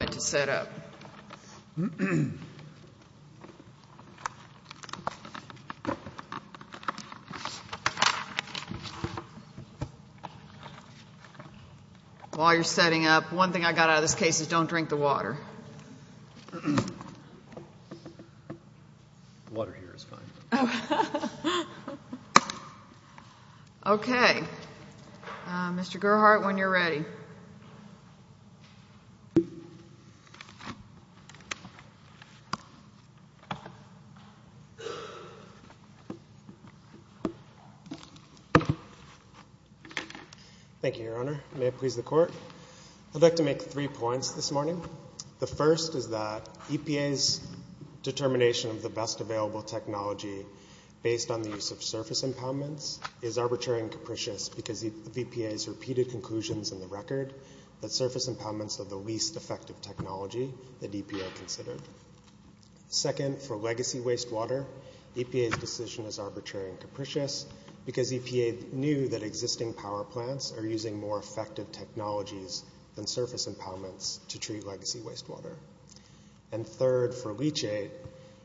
to set up. While you're setting up, one thing I got out of this case is don't drink the water. The water here is fine. Okay, Mr. Gerhardt, when you're ready. Thank you, Your Honor. May it please the Court. I'd like to make three points this morning. The first is that EPA's determination of the best available technology based on the use of surface impoundments is arbitrary and capricious because of EPA's repeated conclusions in the record that surface impoundments are the least effective technology that EPA considered. Second, for legacy wastewater, EPA's decision is arbitrary and capricious because EPA knew that existing power plants are using more effective technologies than surface impoundments to treat legacy wastewater. And third, for leachate,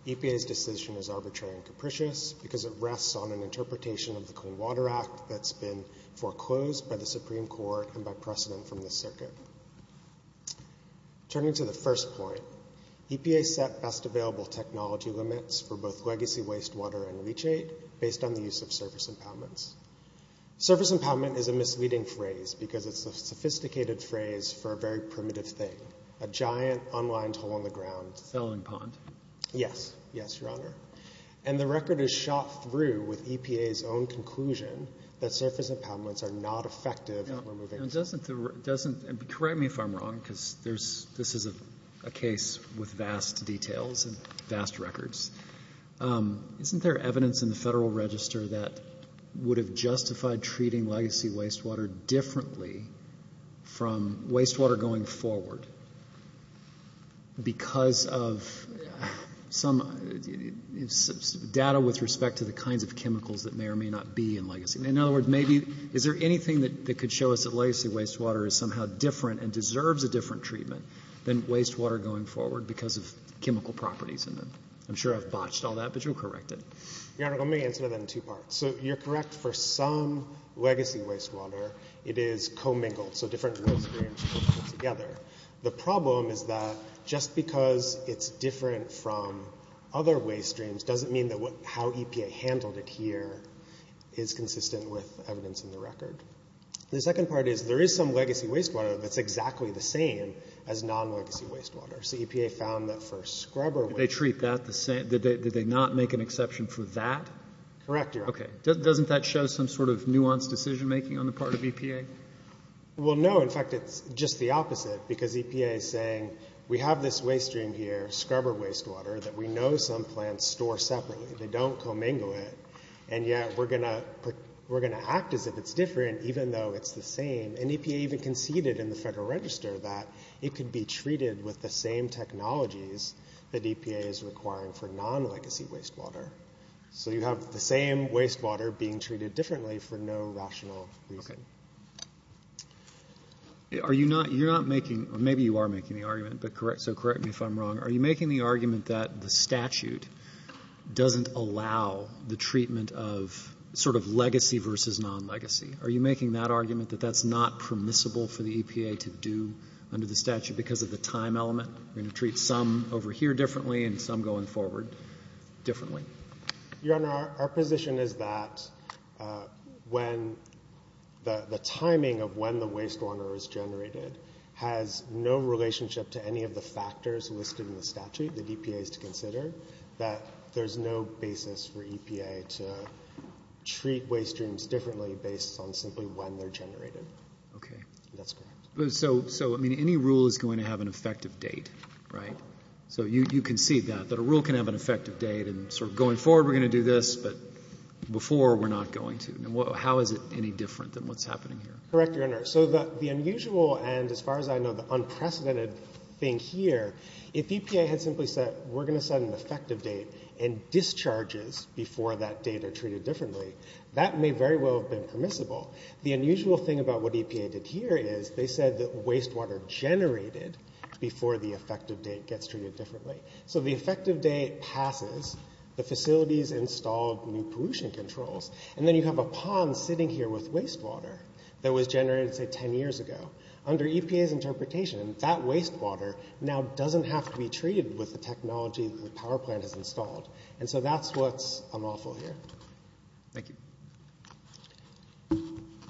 EPA's decision is arbitrary and capricious because it rests on an interpretation of the Clean Water Act that's been foreclosed by the Supreme Court and by precedent from the circuit. Turning to the first point, EPA set best available technology limits for both legacy wastewater and leachate based on the use of surface impoundments. Surface impoundment is a misleading phrase because it's a sophisticated phrase for a very primitive thing, a giant unlined hole in the ground. Felling pond. Yes. Yes, Your Honor. And the record is shot through with EPA's own conclusion that surface impoundments are not effective. Correct me if I'm wrong because this is a case with vast details and vast records. Isn't there evidence in the Federal Register that would have justified treating legacy wastewater differently from wastewater going forward because of some data with respect to the kinds of chemicals that may or may not be in legacy? In other words, maybe, is there anything that could show us that legacy wastewater is somehow different and deserves a different treatment than wastewater going forward because of chemical properties in them? I'm sure I've botched all that, but you'll correct it. Your Honor, let me answer that in two parts. So you're correct for some legacy wastewater. It is commingled, so different waste streams coming together. The problem is that just because it's different from other waste streams doesn't mean that how EPA handled it here is consistent with evidence in the record. The second part is there is some legacy wastewater that's exactly the same as non-legacy wastewater. So EPA found that for scrubber waste... Did they treat that the same? Did they not make an exception for that? Correct, Your Honor. Okay. Doesn't that show some sort of nuanced decision-making on the part of EPA? Well, no. In fact, it's just the opposite because EPA is saying, we have this waste stream here, scrubber wastewater, that we know some plants store separately. They don't commingle it, and yet we're going to act as if it's different even though it's the same. And EPA even conceded in the Federal Register that it could be treated with the same technologies that EPA is requiring for non-legacy wastewater. So you have the same wastewater being treated differently for no rational reason. Are you not making... Maybe you are making the argument, so correct me if I'm wrong. Are you making the argument that the statute doesn't allow the treatment of sort of legacy versus non-legacy? Are you making that argument that that's not permissible for the EPA to do under the statute because of the time element? We're going to treat some over here differently and some going forward differently. Your Honor, our position is that when the timing of when the wastewater is generated has no relationship to any of the factors listed in the statute that EPA is to consider, that there's no basis for EPA to treat waste streams differently based on simply when they're generated. Okay. That's correct. So, I mean, any rule is going to have an effective date, right? So you concede that, that a rule can have an effective date and sort of going forward we're going to do this, but before we're not going to. How is it any different than what's happening here? Correct, Your Honor. So the unusual and, as far as I know, the unprecedented thing here, if EPA had simply said we're going to set an effective date and discharges before that date are treated differently, that may very well have been permissible. The unusual thing about what EPA did here is they said that wastewater generated before the effective date gets treated differently. So the effective date passes, the facilities installed new pollution controls, and then you have a pond sitting here with wastewater that was generated, say, 10 years ago. Under EPA's interpretation, that wastewater now doesn't have to be treated with the technology that the power plant has installed. And so that's what's unlawful here. Thank you.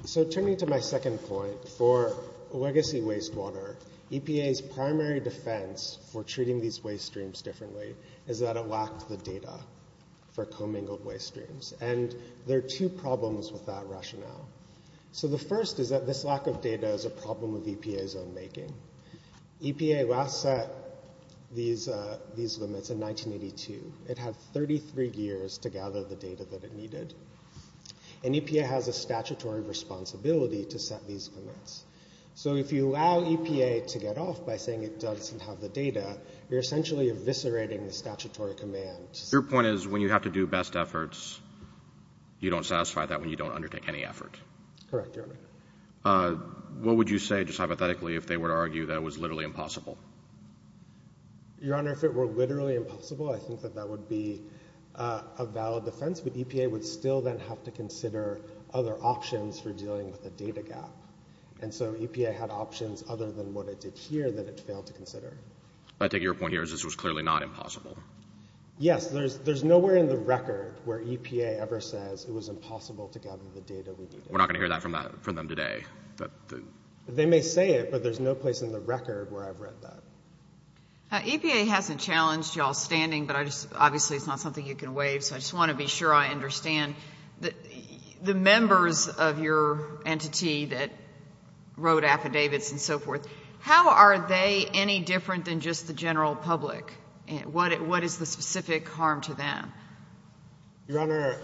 So turning to my second point, for legacy wastewater, EPA's primary defense for treating these waste streams differently is that it lacked the data for commingled waste streams. And there are two problems with that rationale. So the first is that this lack of data is a problem of EPA's own making. EPA last set these limits in 1982. It had 33 years to gather the data that it needed. And EPA has a statutory responsibility to set these limits. So if you allow EPA to get off by saying it doesn't have the data, you're essentially eviscerating the statutory command. Your point is when you have to do best efforts, you don't satisfy that when you don't undertake any effort. Correct, Your Honor. What would you say, just hypothetically, if they were to argue that it was literally impossible? Your Honor, if it were literally impossible, I think that that would be a valid defense. But EPA would still then have to consider other options for dealing with the data gap. And so EPA had options other than what it did here that it failed to consider. I take your point here is this was clearly not impossible. Yes, there's nowhere in the record where EPA ever says it was impossible to gather the data we needed. We're not going to hear that from them today. They may say it, but there's no place in the record where I've read that. EPA hasn't challenged y'all's standing, but obviously it's not something you can waive. So I just want to be sure I understand the members of your entity that wrote affidavits and so forth, how are they any different than just the general public? What is the specific harm to them? Your Honor,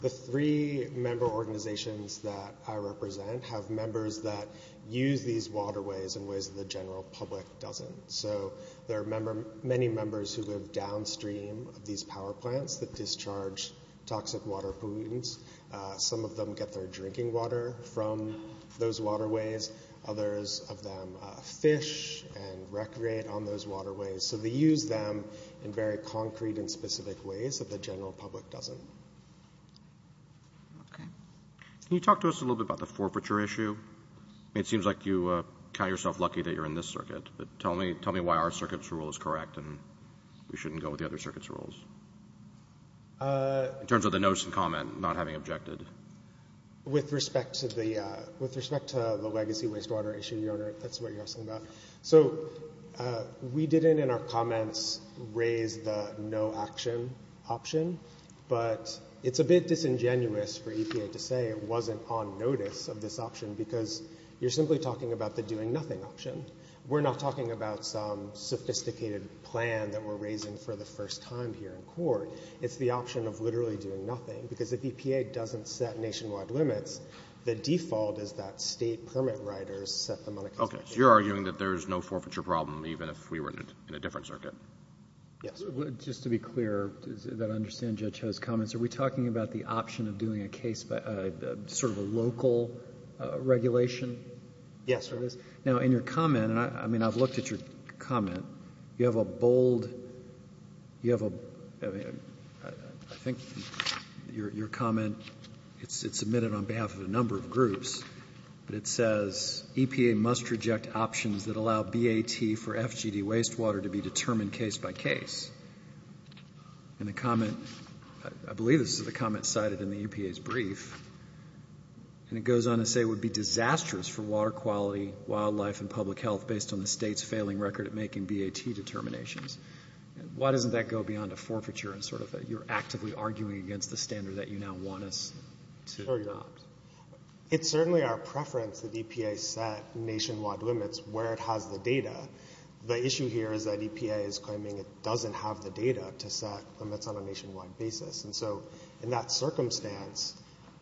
the three member organizations that I represent have members that use these waterways in ways that the general public doesn't. So there are many members who live downstream of these power plants that discharge toxic water pollutants. Some of them get their drinking water from those waterways. Others of them fish and recreate on those waterways. So they use them in very concrete and specific ways that the general public doesn't. Okay. Can you talk to us a little bit about the forfeiture issue? It seems like you count yourself lucky that you're in this circuit, but tell me why our circuit's rule is correct and we shouldn't go with the other circuit's rules in terms of the notice and comment, not having objected. With respect to the legacy wastewater issue, Your Honor, that's what you're asking about. So we didn't, in our comments, raise the no action option, but it's a bit disingenuous for EPA to say it wasn't on notice of this option because you're simply talking about the doing nothing option. We're not talking about some sophisticated plan that we're raising for the first time here in court. It's the option of literally doing nothing because if EPA doesn't set nationwide limits, the default is that state permit writers set them on a consideration. So you're arguing that there's no forfeiture problem even if we were in a different circuit? Yes. Just to be clear, that I understand Judge Ho's comments, are we talking about the option of doing a case, sort of a local regulation? Yes. Now, in your comment, I mean, I've looked at your comment, you have a bold, you have a, I think your comment, it's submitted on behalf of a number of groups, but it says EPA must reject options that allow BAT for FGD wastewater to be determined case by case. And the comment, I believe this is a comment cited in the EPA's brief, and it goes on to say it would be disastrous for water quality, wildlife, and public health based on the state's failing record at making BAT determinations. Why doesn't that go beyond a forfeiture and sort of you're actively arguing against the standard that you now want us to adopt? It's certainly our preference that EPA set nationwide limits where it has the data. The issue here is that EPA is claiming it doesn't have the data to set limits on a nationwide basis. And so, in that circumstance,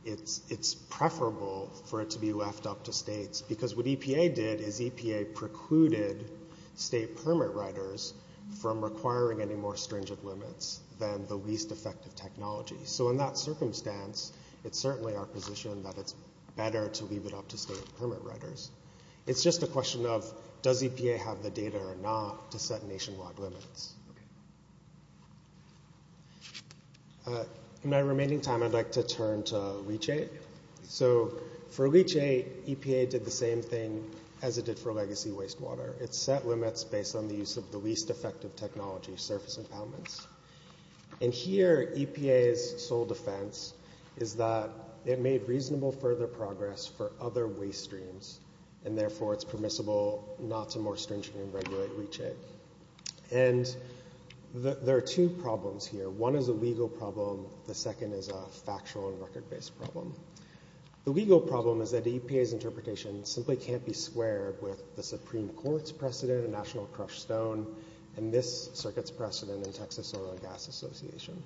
it's preferable for it to be left up to states. Because what EPA did is EPA precluded state permit writers from requiring any more stringent limits than the least effective technology. So in that circumstance, it's certainly our position that it's better to leave it up to state permit writers. It's just a question of does EPA have the data or not to set nationwide limits. In my remaining time, I'd like to turn to LEACH-8. So for LEACH-8, EPA did the same thing as it did for legacy wastewater. It set limits based on the use of the least effective technology, surface impoundments. And here, EPA's sole defense is that it made reasonable further progress for other waste streams and therefore it's permissible not to more stringently regulate LEACH-8. And there are two problems here. One is a legal problem. The second is a factual and record-based problem. The legal problem is that EPA's interpretation simply can't be squared with the Supreme Court's National Crushstone and this circuit's precedent in Texas Oil and Gas Association.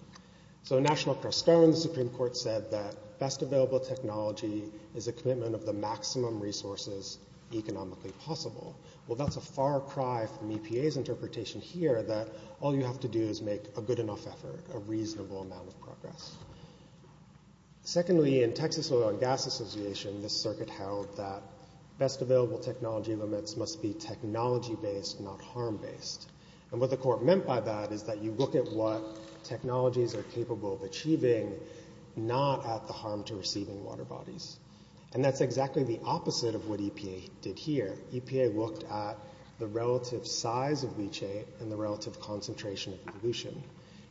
So National Crushstone, the Supreme Court said that best available technology is a commitment of the maximum resources economically possible. Well, that's a far cry from EPA's interpretation here that all you have to do is make a good enough effort, a reasonable amount of progress. Secondly, in Texas Oil and Gas Association, this circuit held that best available technology limits must be technology-based, not harm-based. And what the court meant by that is that you look at what technologies are capable of achieving, not at the harm to receiving water bodies. And that's exactly the opposite of what EPA did here. EPA looked at the relative size of LEACH-8 and the relative concentration of pollution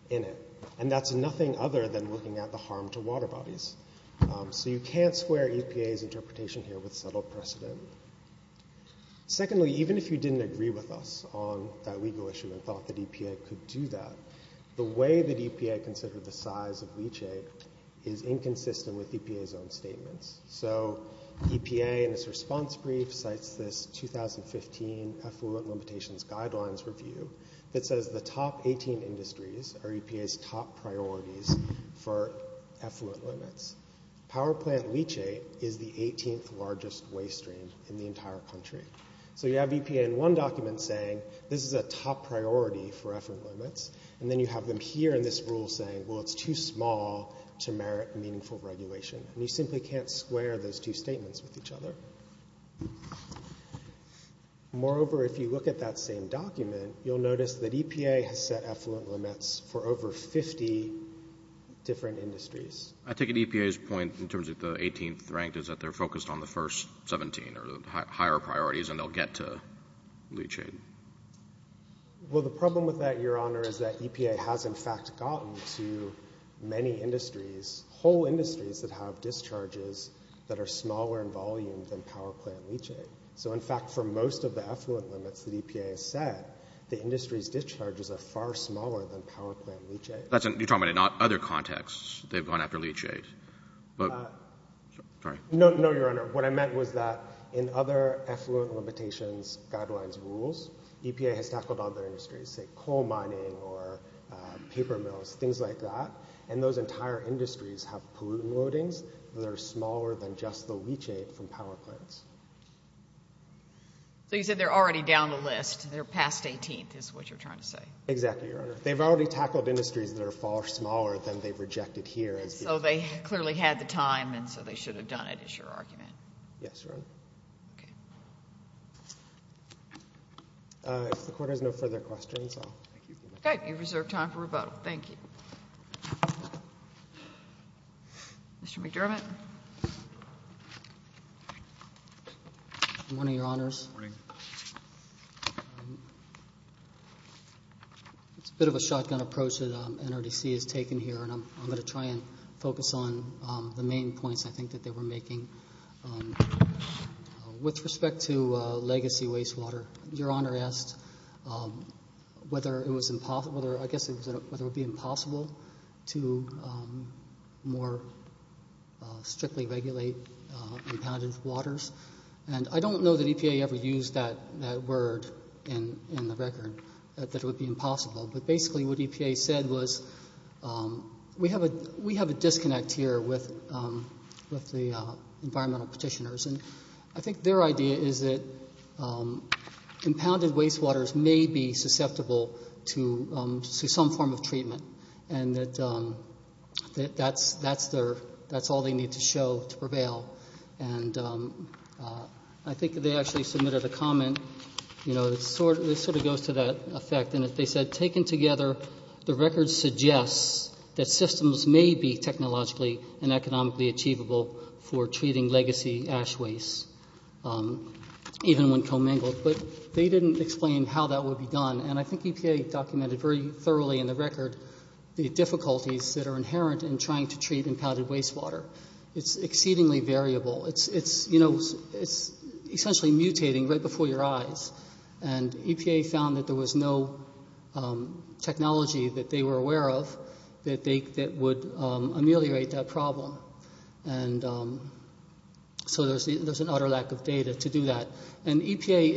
in it. And that's nothing other than looking at the harm to water bodies. So you can't square EPA's interpretation here with subtle precedent. Secondly, even if you didn't agree with us on that legal issue and thought that EPA could do that, the way that EPA considered the size of LEACH-8 is inconsistent with EPA's own statements. So EPA in its response brief cites this 2015 Effluent Limitations Guidelines review that says the top 18 industries are EPA's top priorities for effluent limits. Power plant LEACH-8 is the 18th largest waste stream in the entire country. So you have EPA in one document saying this is a top priority for effluent limits, and then you have them here in this rule saying, well, it's too small to merit meaningful regulation. And you simply can't square those two statements with each other. Moreover, if you look at that same document, you'll notice that EPA has set effluent limits for over 50 different industries. I take it EPA's point in terms of the 18th rank is that they're focused on the first 17 or the higher priorities, and they'll get to LEACH-8. Well, the problem with that, Your Honor, is that EPA has, in fact, gotten to many industries, whole industries that have discharges that are smaller in volume than power plant LEACH-8. So in fact, for most of the effluent limits that EPA has set, the industry's discharges are far smaller than power plant LEACH-8. You're talking about in other contexts, they've gone after LEACH-8, but, sorry. No, Your Honor. What I meant was that in other effluent limitations guidelines rules, EPA has tackled other industries, say coal mining or paper mills, things like that. And those entire industries have pollutant loadings that are smaller than just the LEACH-8 from power plants. So you said they're already down the list. They're past 18th is what you're trying to say. Exactly, Your Honor. They've already tackled industries that are far smaller than they've rejected here. So they clearly had the time, and so they should have done it, is your argument. Yes, Your Honor. Okay. If the Court has no further questions, I'll thank you for that. Okay. You've reserved time for rebuttal. Thank you. Mr. McDermott. Good morning, Your Honors. Good morning. It's a bit of a shotgun approach that NRDC has taken here, and I'm going to try and get to as many points I think that they were making. With respect to legacy wastewater, Your Honor asked whether it would be impossible to more strictly regulate impounded waters. And I don't know that EPA ever used that word in the record, that it would be impossible. But basically what EPA said was, we have a disconnect here with the environmental petitioners. And I think their idea is that impounded wastewaters may be susceptible to some form of treatment, and that that's all they need to show to prevail. And I think they actually submitted a comment, you know, that sort of goes to that effect. And as they said, taken together, the record suggests that systems may be technologically and economically achievable for treating legacy ash waste, even when commingled. But they didn't explain how that would be done. And I think EPA documented very thoroughly in the record the difficulties that are inherent in trying to treat impounded wastewater. It's exceedingly variable. It's, you know, it's essentially mutating right before your eyes. And EPA found that there was no technology that they were aware of that would ameliorate that problem. And so there's an utter lack of data to do that. And EPA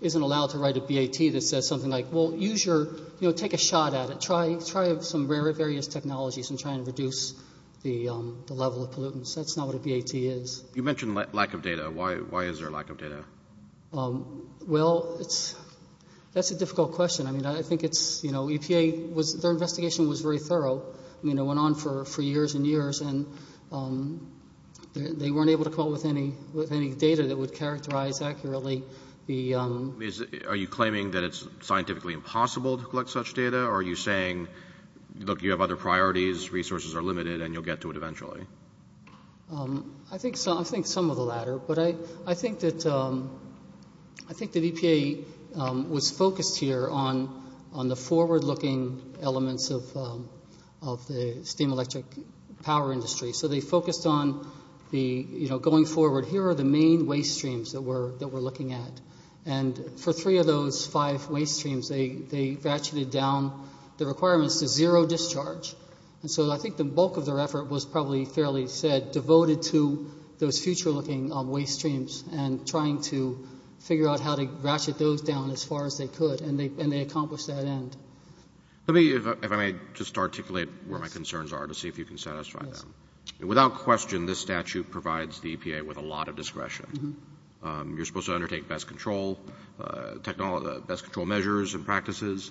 isn't allowed to write a BAT that says something like, well, use your, you know, take a shot at it, try some various technologies and try and reduce the level of pollutants. That's not what a BAT is. You mentioned lack of data. Why is there lack of data? Well, it's, that's a difficult question. I mean, I think it's, you know, EPA was, their investigation was very thorough. I mean, it went on for years and years. And they weren't able to come up with any data that would characterize accurately the. Are you claiming that it's scientifically impossible to collect such data? Or are you saying, look, you have other priorities, resources are limited, and you'll get to it eventually? I think some of the latter. But I think that EPA was focused here on the forward-looking elements of the steam electric power industry. So they focused on the, you know, going forward, here are the main waste streams that we're looking at. And for three of those five waste streams, they ratcheted down the requirements to zero discharge. And so I think the bulk of their effort was probably fairly said, devoted to those future-looking waste streams. And trying to figure out how to ratchet those down as far as they could. And they accomplished that end. Let me, if I may, just articulate where my concerns are to see if you can satisfy them. Without question, this statute provides the EPA with a lot of discretion. You're supposed to undertake best control, best control measures and practices.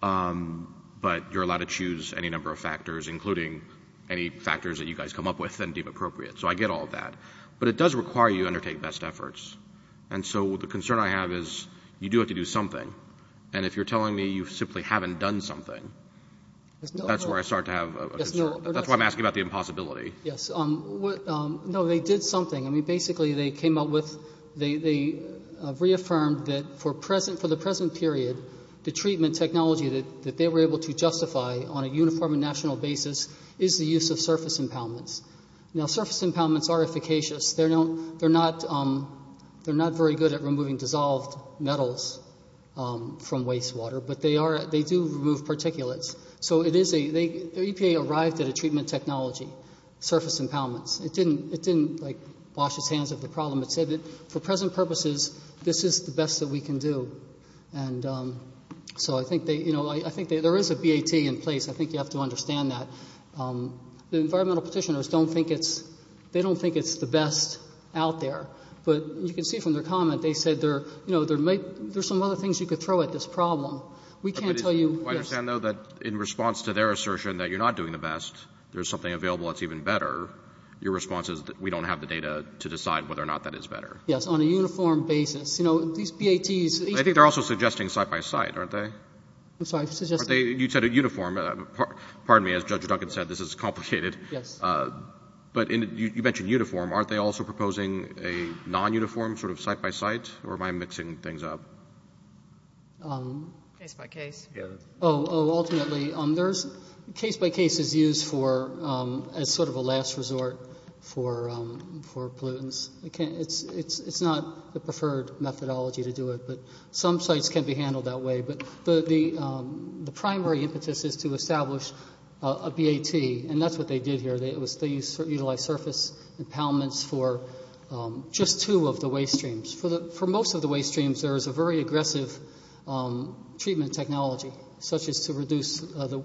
But you're allowed to choose any number of factors, including any factors that you guys come up with and deem appropriate. So I get all of that. But it does require you to undertake best efforts. And so the concern I have is, you do have to do something. And if you're telling me you simply haven't done something, that's where I start to have a concern. That's why I'm asking about the impossibility. Yes, no, they did something. I mean, basically, they came up with, they reaffirmed that for the present period, the treatment technology that they were able to justify on a uniform and national basis is the use of surface impoundments. Now, surface impoundments are efficacious. They're not very good at removing dissolved metals from wastewater. But they do remove particulates. So the EPA arrived at a treatment technology, surface impoundments. It didn't wash its hands of the problem. It said that for present purposes, this is the best that we can do. And so I think there is a BAT in place. I think you have to understand that. The environmental petitioners don't think it's, they don't think it's the best out there. But you can see from their comment, they said there's some other things you could throw at this problem. We can't tell you- There's something available that's even better. Your response is that we don't have the data to decide whether or not that is better. Yes, on a uniform basis. You know, these BATs- I think they're also suggesting site by site, aren't they? I'm sorry, suggesting? You said a uniform. Pardon me, as Judge Duncan said, this is complicated. Yes. But you mentioned uniform. Aren't they also proposing a non-uniform sort of site by site? Or am I mixing things up? Case by case. Yeah. Oh, ultimately, there's case by case is used for, as sort of a last resort for pollutants. It's not the preferred methodology to do it. But some sites can be handled that way. But the primary impetus is to establish a BAT. And that's what they did here. They utilized surface impoundments for just two of the waste streams. For most of the waste streams, there is a very aggressive treatment technology, such as to reduce the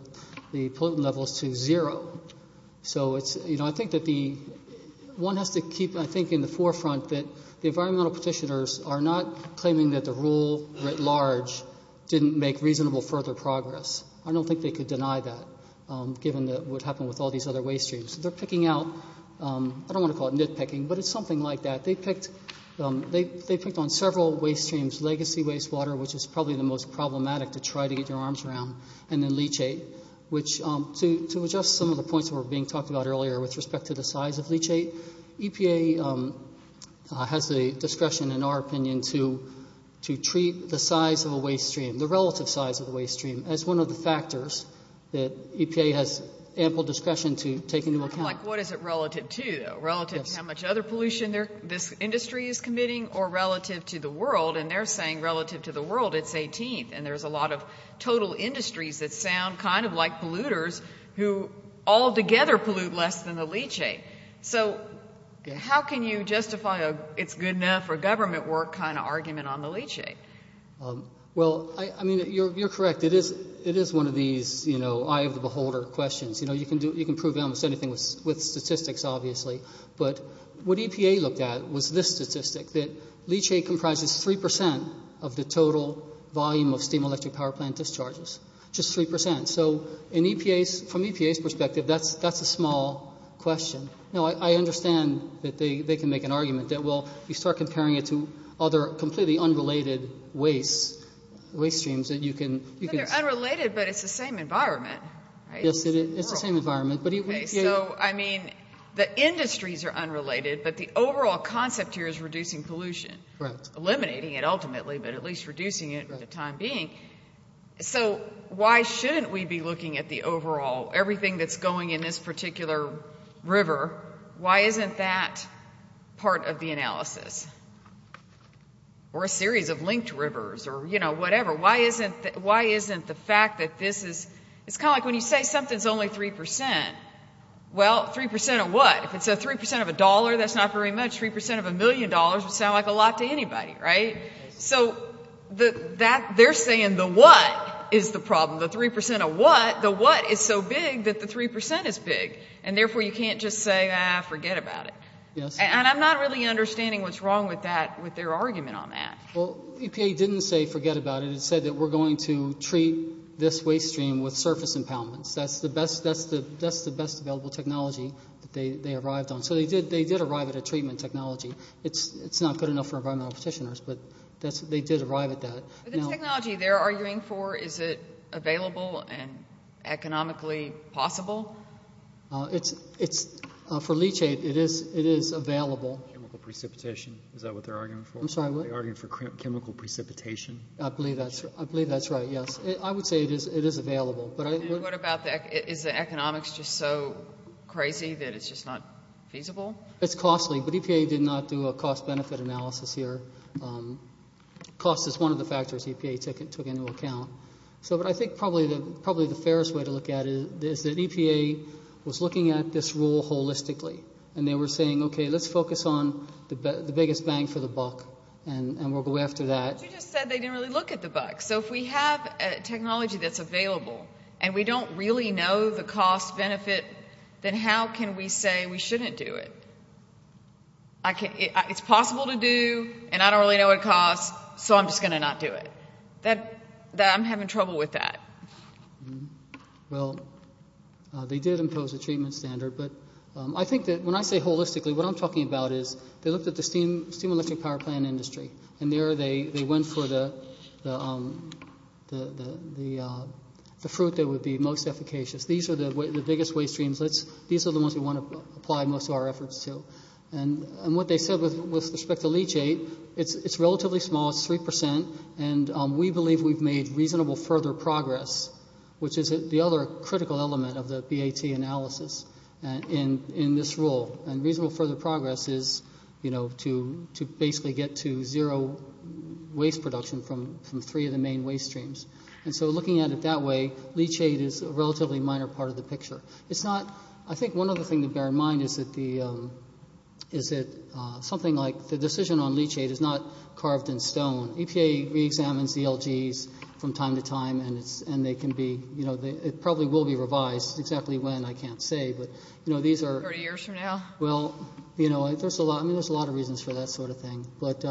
pollutant levels to zero. So I think that one has to keep, I think, in the forefront that the environmental petitioners are not claiming that the rule writ large didn't make reasonable further progress. I don't think they could deny that, given what happened with all these other waste streams. They're picking out- I don't want to call it nitpicking, but it's something like that. They picked on several waste streams, legacy waste water, which is probably the most problematic to try to get your arms around, and then leachate. Which, to adjust some of the points that were being talked about earlier with respect to the size of leachate, EPA has the discretion, in our opinion, to treat the size of a waste stream, the relative size of a waste stream, as one of the factors that EPA has ample discretion to take into account. I'm like, what is it relative to, though? Relative to how much other pollution this industry is committing, or relative to the world? And they're saying, relative to the world, it's 18th. And there's a lot of total industries that sound kind of like polluters, who all together pollute less than the leachate. So, how can you justify a it's good enough for government work kind of argument on the leachate? Well, I mean, you're correct. It is one of these, you know, eye of the beholder questions. You know, you can prove almost anything with statistics, obviously. But what EPA looked at was this statistic, that leachate comprises 3% of the total volume of steam electric power plant discharges. Just 3%. So, in EPA's, from EPA's perspective, that's a small question. Now, I understand that they can make an argument that, well, you start comparing it to other completely unrelated wastes, waste streams that you can. They're unrelated, but it's the same environment, right? It's the same environment, but it would be. So, I mean, the industries are unrelated, but the overall concept here is reducing pollution, eliminating it ultimately, but at least reducing it for the time being. So, why shouldn't we be looking at the overall, everything that's going in this particular river? Why isn't that part of the analysis? Or a series of linked rivers or, you know, whatever. Why isn't the fact that this is, it's kind of like when you say something's only 3%, well, 3% of what? If it's 3% of a dollar, that's not very much. 3% of a million dollars would sound like a lot to anybody, right? So, they're saying the what is the problem. The 3% of what, the what is so big that the 3% is big. And therefore, you can't just say, ah, forget about it. And I'm not really understanding what's wrong with that, with their argument on that. Well, EPA didn't say forget about it. It said that we're going to treat this waste stream with surface impoundments. That's the best, that's the best available technology that they arrived on. So, they did arrive at a treatment technology. It's not good enough for environmental petitioners, but they did arrive at that. But the technology they're arguing for, is it available and economically possible? It's, for leachate, it is available. Chemical precipitation, is that what they're arguing for? I'm sorry, what? Are they arguing for chemical precipitation? I believe that's, I believe that's right, yes. I would say it is, it is available. But I, what about the, is the economics just so crazy that it's just not feasible? It's costly, but EPA did not do a cost-benefit analysis here. Cost is one of the factors EPA took into account. So, but I think probably the, probably the fairest way to look at it is that EPA was looking at this rule holistically. And they were saying, okay, let's focus on the biggest bang for the buck. And we'll go after that. But you just said they didn't really look at the buck. So if we have a technology that's available, and we don't really know the cost-benefit, then how can we say we shouldn't do it? I can't, it's possible to do, and I don't really know what it costs, so I'm just going to not do it. That, that I'm having trouble with that. Well, they did impose a treatment standard, but I think that when I say holistically, what I'm talking about is, they looked at the steam electric power plant industry. And there they went for the fruit that would be most efficacious. These are the biggest waste streams. These are the ones we want to apply most of our efforts to. And what they said with respect to leachate, it's relatively small, it's 3%. And we believe we've made reasonable further progress, which is the other critical element of the BAT analysis in this rule. And reasonable further progress is, you know, to basically get to zero waste production from three of the main waste streams. And so looking at it that way, leachate is a relatively minor part of the picture. It's not, I think one other thing to bear in mind is that the, is that something like the decision on leachate is not carved in stone. EPA re-examines the LGs from time to time, and it's, and they can be, you know, it probably will be revised. Exactly when, I can't say, but, you know, these are- Well, you know, there's a lot, I mean, there's a lot of reasons for that sort of thing. But,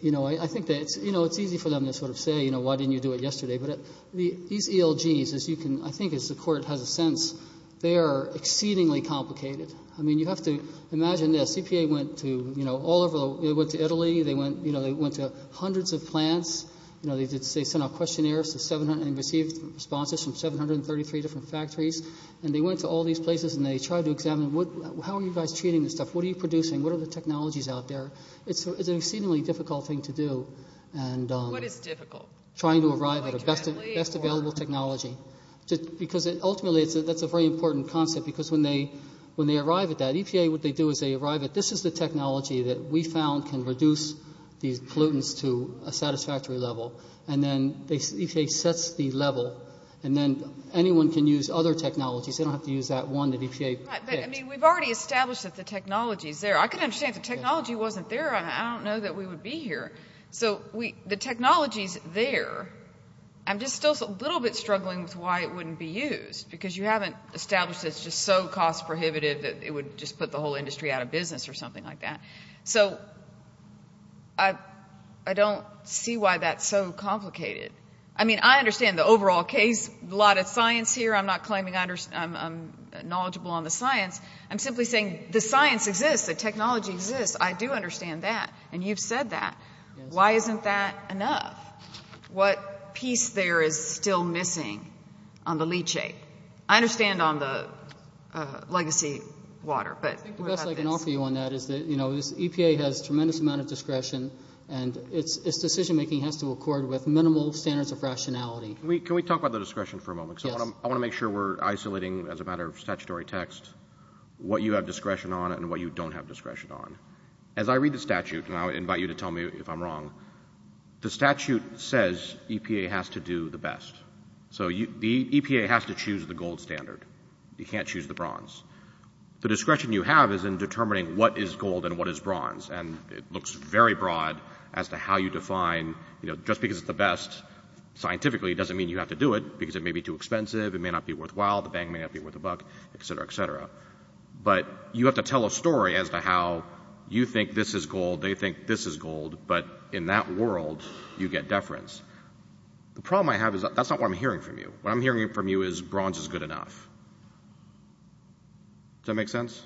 you know, I think that it's, you know, it's easy for them to sort of say, you know, why didn't you do it yesterday? But these ELGs, as you can, I think as the court has a sense, they are exceedingly complicated. I mean, you have to imagine this. EPA went to, you know, all over, they went to Italy, they went, you know, they went to hundreds of plants. You know, they sent out questionnaires to 700, and received responses from 733 different factories. And they went to all these places, and they tried to examine, how are you guys treating this stuff? What are you producing? What are the technologies out there? It's an exceedingly difficult thing to do. And- What is difficult? Trying to arrive at a best available technology. Because ultimately, that's a very important concept. Because when they arrive at that, EPA, what they do is they arrive at, this is the technology that we found can reduce these pollutants to a satisfactory level. And then, EPA sets the level, and then anyone can use other technologies. They don't have to use that one that EPA picked. I mean, we've already established that the technology is there. I can understand if the technology wasn't there, I don't know that we would be here. So, the technology is there. I'm just still a little bit struggling with why it wouldn't be used. Because you haven't established that it's just so cost prohibitive that it would just put the whole industry out of business or something like that. So, I don't see why that's so complicated. I mean, I understand the overall case. A lot of science here. I'm not claiming I'm knowledgeable on the science. I'm simply saying the science exists. The technology exists. I do understand that. And you've said that. Why isn't that enough? What piece there is still missing on the leachate? I understand on the legacy water, but- EPA has a tremendous amount of discretion, and its decision-making has to accord with minimal standards of rationality. Can we talk about the discretion for a moment? Yes. I want to make sure we're isolating, as a matter of statutory text, what you have discretion on and what you don't have discretion on. As I read the statute, and I invite you to tell me if I'm wrong, the statute says EPA has to do the best. You can't choose the bronze. The discretion you have is in determining what is gold and what is bronze. And it looks very broad as to how you define, you know, just because it's the best scientifically doesn't mean you have to do it, because it may be too expensive, it may not be worthwhile, the bang may not be worth a buck, et cetera, et cetera. But you have to tell a story as to how you think this is gold, they think this is gold, but in that world, you get deference. The problem I have is that's not what I'm hearing from you. What I'm hearing from you is bronze is good enough. Does that make sense?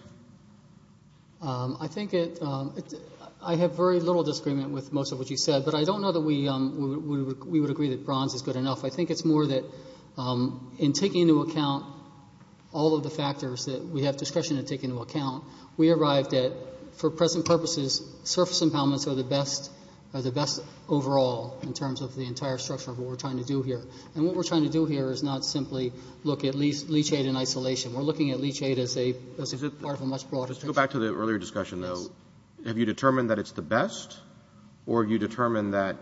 I think it, I have very little disagreement with most of what you said, but I don't know that we would agree that bronze is good enough. I think it's more that in taking into account all of the factors that we have discretion to take into account, we arrived at, for present purposes, surface impoundments are the best overall, in terms of the entire structure of what we're trying to do here. And what we're trying to do here is not simply look at leachate in isolation. We're looking at leachate as a part of a much broader structure. Let's go back to the earlier discussion, though. Have you determined that it's the best, or have you determined that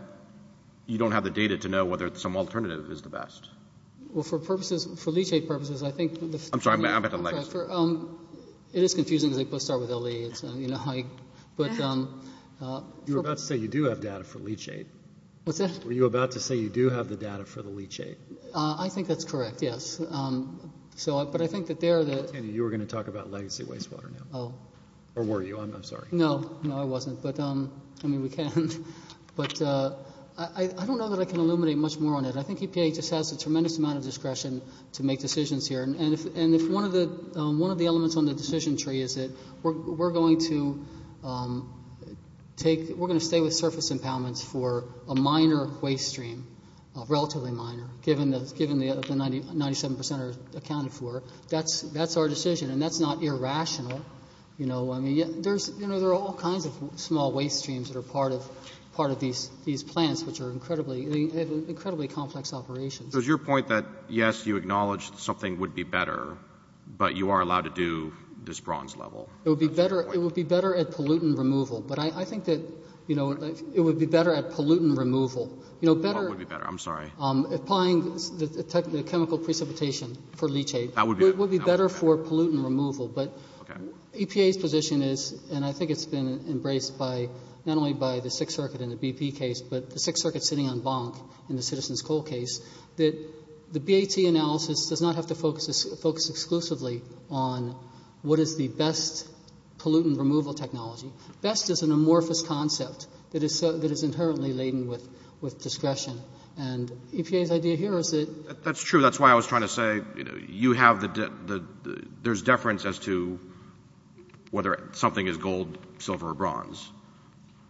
you don't have the data to know whether some alternative is the best? Well, for purposes, for leachate purposes, I think... I'm sorry, I'm at a legacy. It is confusing, because they both start with a lea. You were about to say you do have data for leachate. What's that? Were you about to say you do have the data for the leachate? I think that's correct, yes. But I think that there... You were going to talk about legacy wastewater now. Oh. Or were you? I'm sorry. No, no, I wasn't. But, I mean, we can. But I don't know that I can illuminate much more on it. I think EPA just has a tremendous amount of discretion to make decisions here. And if one of the elements on the decision tree is that we're going to stay with surface impoundments for a minor waste stream, relatively minor, given the 97% are accounted for, that's our decision, and that's not irrational. You know, I mean, there are all kinds of small waste streams that are part of these plants, which are incredibly complex operations. So it's your point that, yes, you acknowledge that something would be better, but you are allowed to do this bronze level? It would be better at pollutant removal. But I think that it would be better at pollutant removal. What would be better? I'm sorry. Applying the chemical precipitation for leachate would be better for pollutant removal. But EPA's position is, and I think it's been embraced not only by the Sixth Circuit in the BP case, but the Sixth Circuit sitting on Bonk in the Citizens Coal case, that the BAT analysis does not have to focus exclusively on what is the best pollutant removal technology. Best is an amorphous concept that is inherently laden with discretion. And EPA's idea here is that you have the deference as to whether something is gold, silver, or bronze.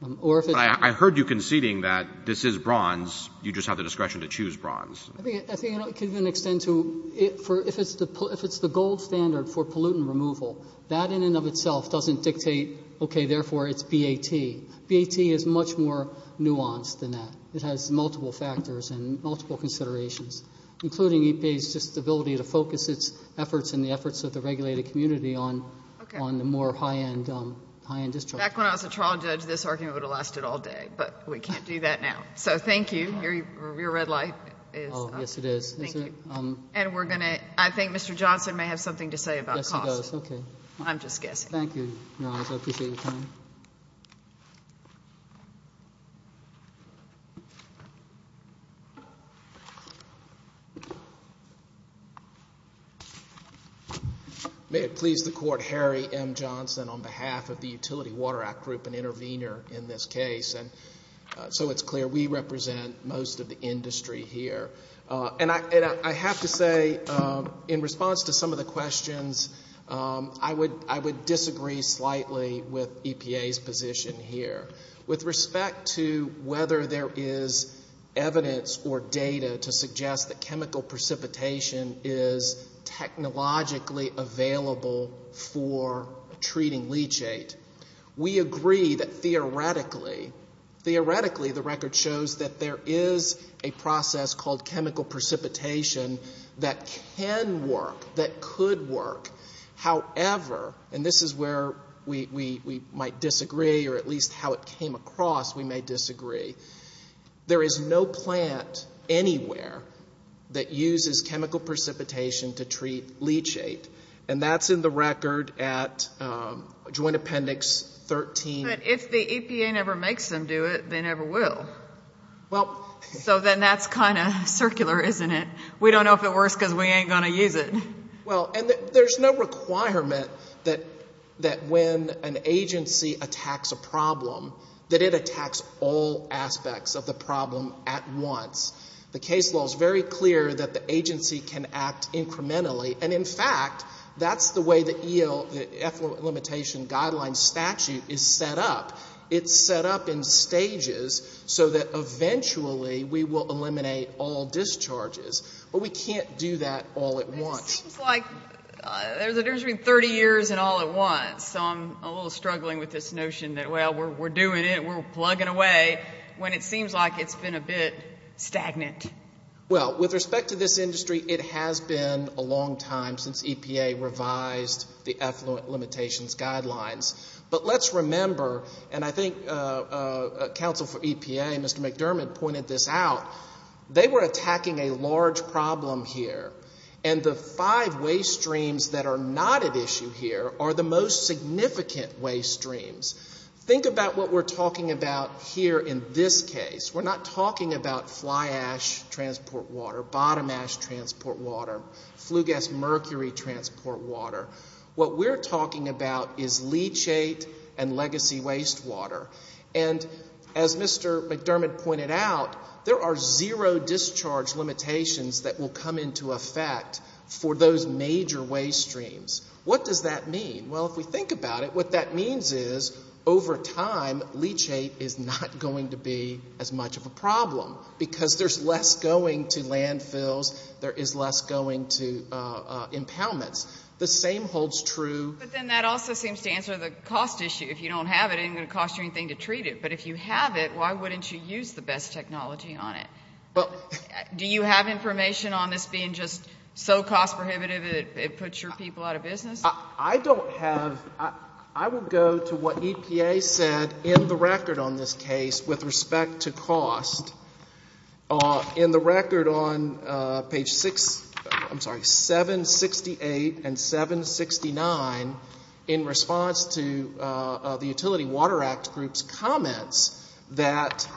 But I heard you conceding that this is bronze, you just have the discretion to choose bronze. I think it could even extend to if it's the gold standard for pollutant removal, that in and of itself doesn't dictate, okay, therefore it's BAT. BAT is much more nuanced than that. It has multiple factors and multiple considerations, including EPA's just ability to focus its efforts and the efforts of the regulated community on the more high-end district. Back when I was a trial judge, this argument would have lasted all day. But we can't do that now. So thank you. Your red light is up. Oh, yes it is. Thank you. And we're going to, I think Mr. Johnson may have something to say about cost. I'm just guessing. Thank you, Niles. I appreciate your time. May it please the Court, Harry M. Johnson on behalf of the Utility Water Act Group, an intervener in this case. And so it's clear we represent most of the industry here. And I have to say, in response to some of the questions, I would disagree slightly with EPA's position here. With respect to whether there is evidence or data to suggest that chemical precipitation is technologically available for treating leachate, we agree that theoretically, theoretically the record shows that there is a process called chemical precipitation that can work, that could work. However, and this is where we might disagree or at least how it came across we may disagree, there is no plant anywhere that uses chemical precipitation to treat leachate. And that's in the record at Joint Appendix 13. If the EPA never makes them do it, they never will. So then that's kind of circular, isn't it? We don't know if it works because we ain't going to use it. Well, and there's no requirement that when an agency attacks a problem, that it attacks all aspects of the problem at once. The case law is very clear that the agency can act incrementally. And in fact, that's the way the EFLA limitation guideline statute is set up. It's set up in stages so that eventually we will eliminate all discharges. But we can't do that all at once. It seems like there's a difference between 30 years and all at once. So I'm a little struggling with this notion that, well, we're doing it, we're plugging away, when it seems like it's been a bit stagnant. Well, with respect to this industry, it has been a long time since EPA revised the effluent limitations guidelines. But let's remember, and I think counsel for EPA, Mr. McDermott, pointed this out, they were attacking a large problem here. And the five waste streams that are not at issue here are the most significant waste streams. Think about what we're talking about here in this case. We're not talking about fly ash transport water, bottom ash transport water, flue gas mercury transport water. What we're talking about is leachate and legacy waste water. And as Mr. McDermott pointed out, there are zero discharge limitations that will come into effect for those major waste streams. What does that mean? Well, if we think about it, what that means is over time leachate is not going to be as much of a problem, because there's less going to landfills, there is less going to impoundments. The same holds true... But then that also seems to answer the cost issue. If you don't have it, it ain't going to cost you anything to treat it. But if you have it, why wouldn't you use the best technology on it? Well... Do you have information on this being just so cost prohibitive it puts your people out of business? I don't have... I will go to what EPA said in the record on this case with respect to cost. In the record on page 6... I'm sorry, 768 and 769, in response to the Utility Water Act group's comments that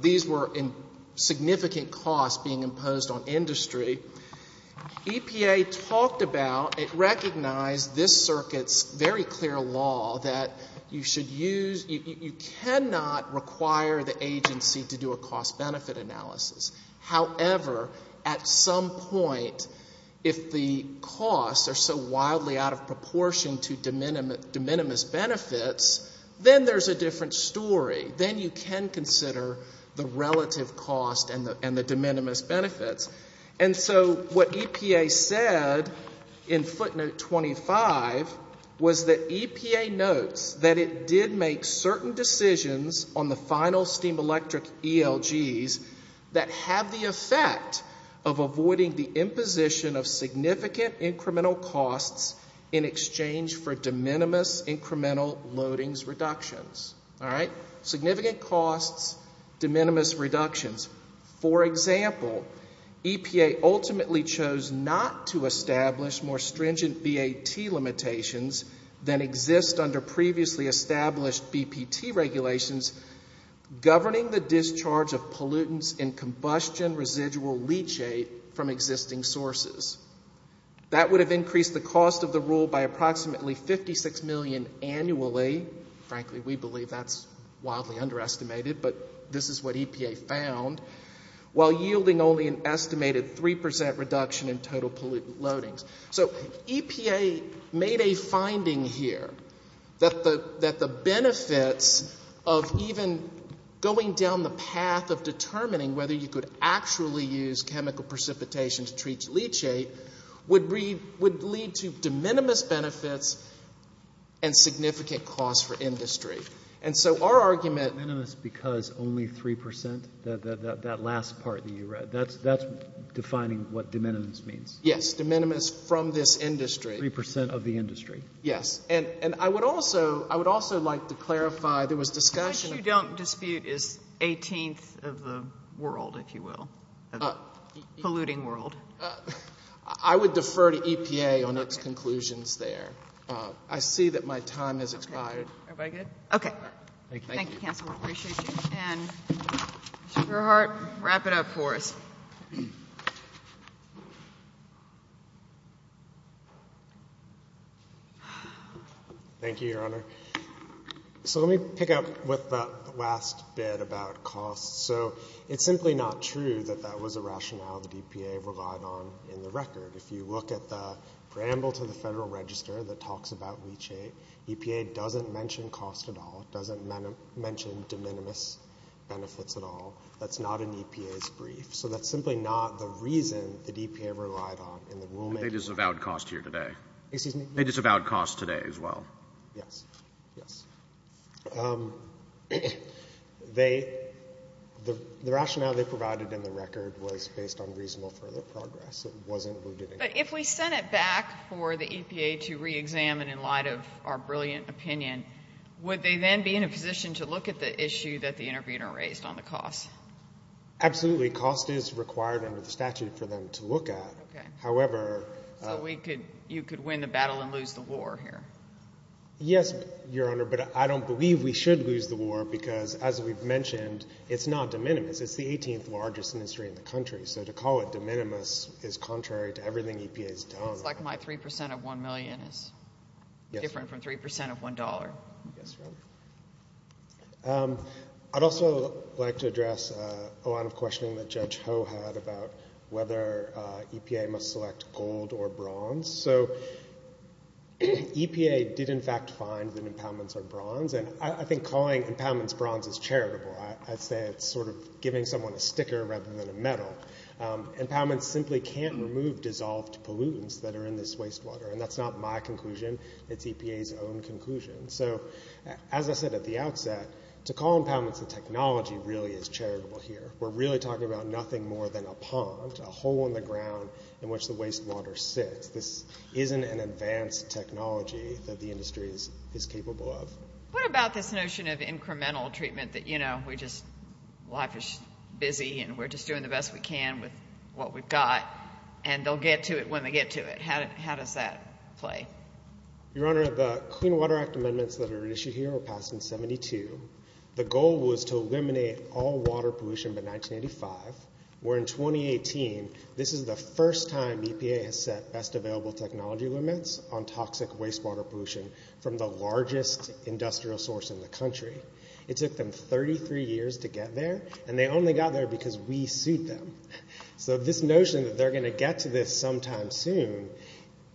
these were significant costs being imposed on industry, EPA talked about and recognized this circuit's very clear law that you should use... You cannot require the agency to do a cost-benefit analysis. However, at some point, if the costs are so wildly out of proportion to de minimis benefits, then there's a different story. Then you can consider the relative cost and the de minimis benefits. And so what EPA said in footnote 25 was that EPA notes that it did make certain decisions on the final steam electric ELGs that have the effect of avoiding the imposition of significant incremental costs in exchange for de minimis incremental loadings reductions. All right? Significant costs, de minimis reductions. For example, EPA ultimately chose not to establish more stringent BAT limitations than exist under previously established BPT regulations governing the discharge of pollutants and combustion residual leachate from existing sources. That would have increased the cost of the rule by approximately 56 million annually. Frankly, we believe that's wildly underestimated, but this is what EPA found, while yielding only an estimated 3% reduction in total pollutant loadings. So EPA made a finding here that the benefits of even going down the path of determining whether you could actually use chemical precipitation to treat leachate would lead to de minimis benefits and significant costs for industry. And so our argument ‑‑ De minimis because only 3%, that last part that you read. That's defining what de minimis means. Yes. De minimis from this industry. 3% of the industry. Yes. And I would also like to clarify, there was discussion ‑‑ 18th of the world, if you will. Polluting world. I would defer to EPA on its conclusions there. I see that my time has expired. Everybody good? Okay. Thank you, counsel. We appreciate you. And Mr. Gerhardt, wrap it up for us. Thank you, Your Honor. So let me pick up with the last bit about costs. So it's simply not true that that was a rationale the EPA relied on in the record. If you look at the preamble to the Federal Register that talks about leachate, EPA doesn't mention cost at all. It doesn't mention de minimis benefits at all. That's not in EPA's brief. So that's simply not the reason the EPA relied on in the rulemaking. They disavowed cost here today. Excuse me? They disavowed cost today as well. Yes. Yes. They, the rationale they provided in the record was based on reasonable further progress. It wasn't rooted in cost. But if we sent it back for the EPA to reexamine in light of our brilliant opinion, would they then be in a position to look at the issue that the interviewer raised on the cost? Absolutely. Cost is required under the statute for them to look at. Okay. However... So we could, you could win the battle and lose the war here. Yes, Your Honor. But I don't believe we should lose the war because as we've mentioned, it's not de minimis. It's the 18th largest industry in the country. So to call it de minimis is contrary to everything EPA's done. It's like my 3% of $1 million is different from 3% of $1. Yes, Your Honor. I'd also like to address a lot of questioning that Judge Ho had about whether EPA must select gold or bronze. So EPA did in fact find that impoundments are bronze. And I think calling impoundments bronze is charitable. I'd say it's sort of giving someone a sticker rather than a medal. Impoundments simply can't remove dissolved pollutants that are in this wastewater. And that's not my conclusion. It's EPA's own conclusion. So as I said at the outset, to call impoundments a technology really is charitable here. We're really talking about nothing more than a pond, a hole in the ground in which the wastewater sits. This isn't an advanced technology that the industry is capable of. What about this notion of incremental treatment that, you know, we're just life is busy and we're just doing the best we can with what we've got and they'll get to it when they get to it? How does that play? Your Honor, the Clean Water Act amendments that are issued here were passed in 72. The goal was to eliminate all water pollution by 1985. Where in 2018, this is the first time EPA has set best available technology limits on toxic wastewater pollution from the largest industrial source in the country. It took them 33 years to get there. And they only got there because we sued them. So this notion that they're going to get to this sometime soon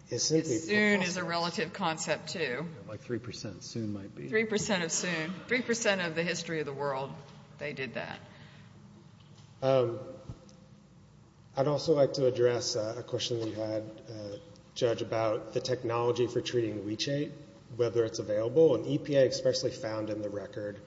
is simply... Soon is a relative concept too. Like 3% soon might be. 3% of soon. 3% of the history of the world, they did that. I'd also like to address a question that you had, Judge, about the technology for treating leachate, whether it's available. And EPA expressly found in the record,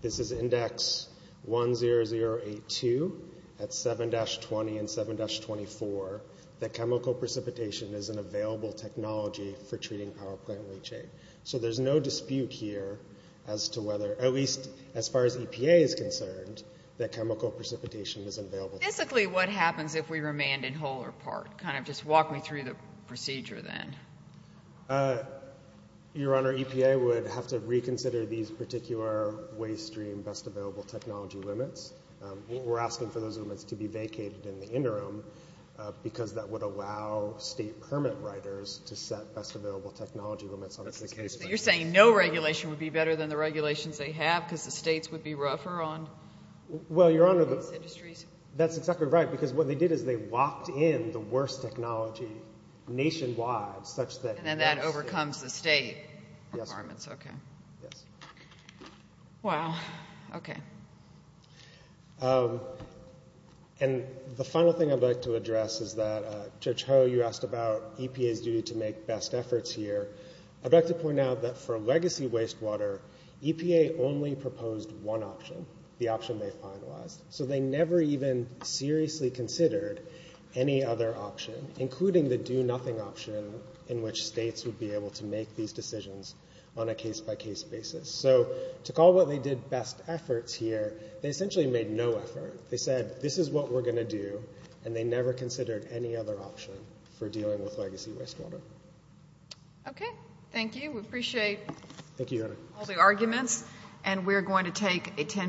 this is index 10082 at 7-20 and 7-24, that chemical precipitation is an available technology for treating power plant leachate. So there's no dispute here as to whether, at least as far as EPA is concerned, that chemical precipitation is available. Physically, what happens if we remand in whole or part? Kind of just walk me through the procedure then. Your Honor, EPA would have to reconsider these particular waste stream best available technology limits. We're asking for those limits to be vacated in the interim because that would allow state permit writers to set best available technology limits on this case. You're saying no regulation would be better than the regulations they have because the states would be rougher on these industries? Well, Your Honor, that's exactly right. Because what they did is they locked in the worst technology nationwide such that... And then that overcomes the state requirements. Yes. Wow. Okay. And the final thing I'd like to address is that, Judge Ho, you asked about EPA's duty to make best efforts here. I'd like to point out that for legacy wastewater, EPA only proposed one option, the option they finalized. So they never even seriously considered any other option, including the do nothing option in which states would be able to make these decisions on a case-by-case basis. So to call what they did best efforts here, they essentially made no effort. They said, this is what we're going to do. And they never considered any other option for dealing with legacy wastewater. Okay. Thank you. We appreciate it. Thank you, Your Honor. ...arguments, and we're going to take a...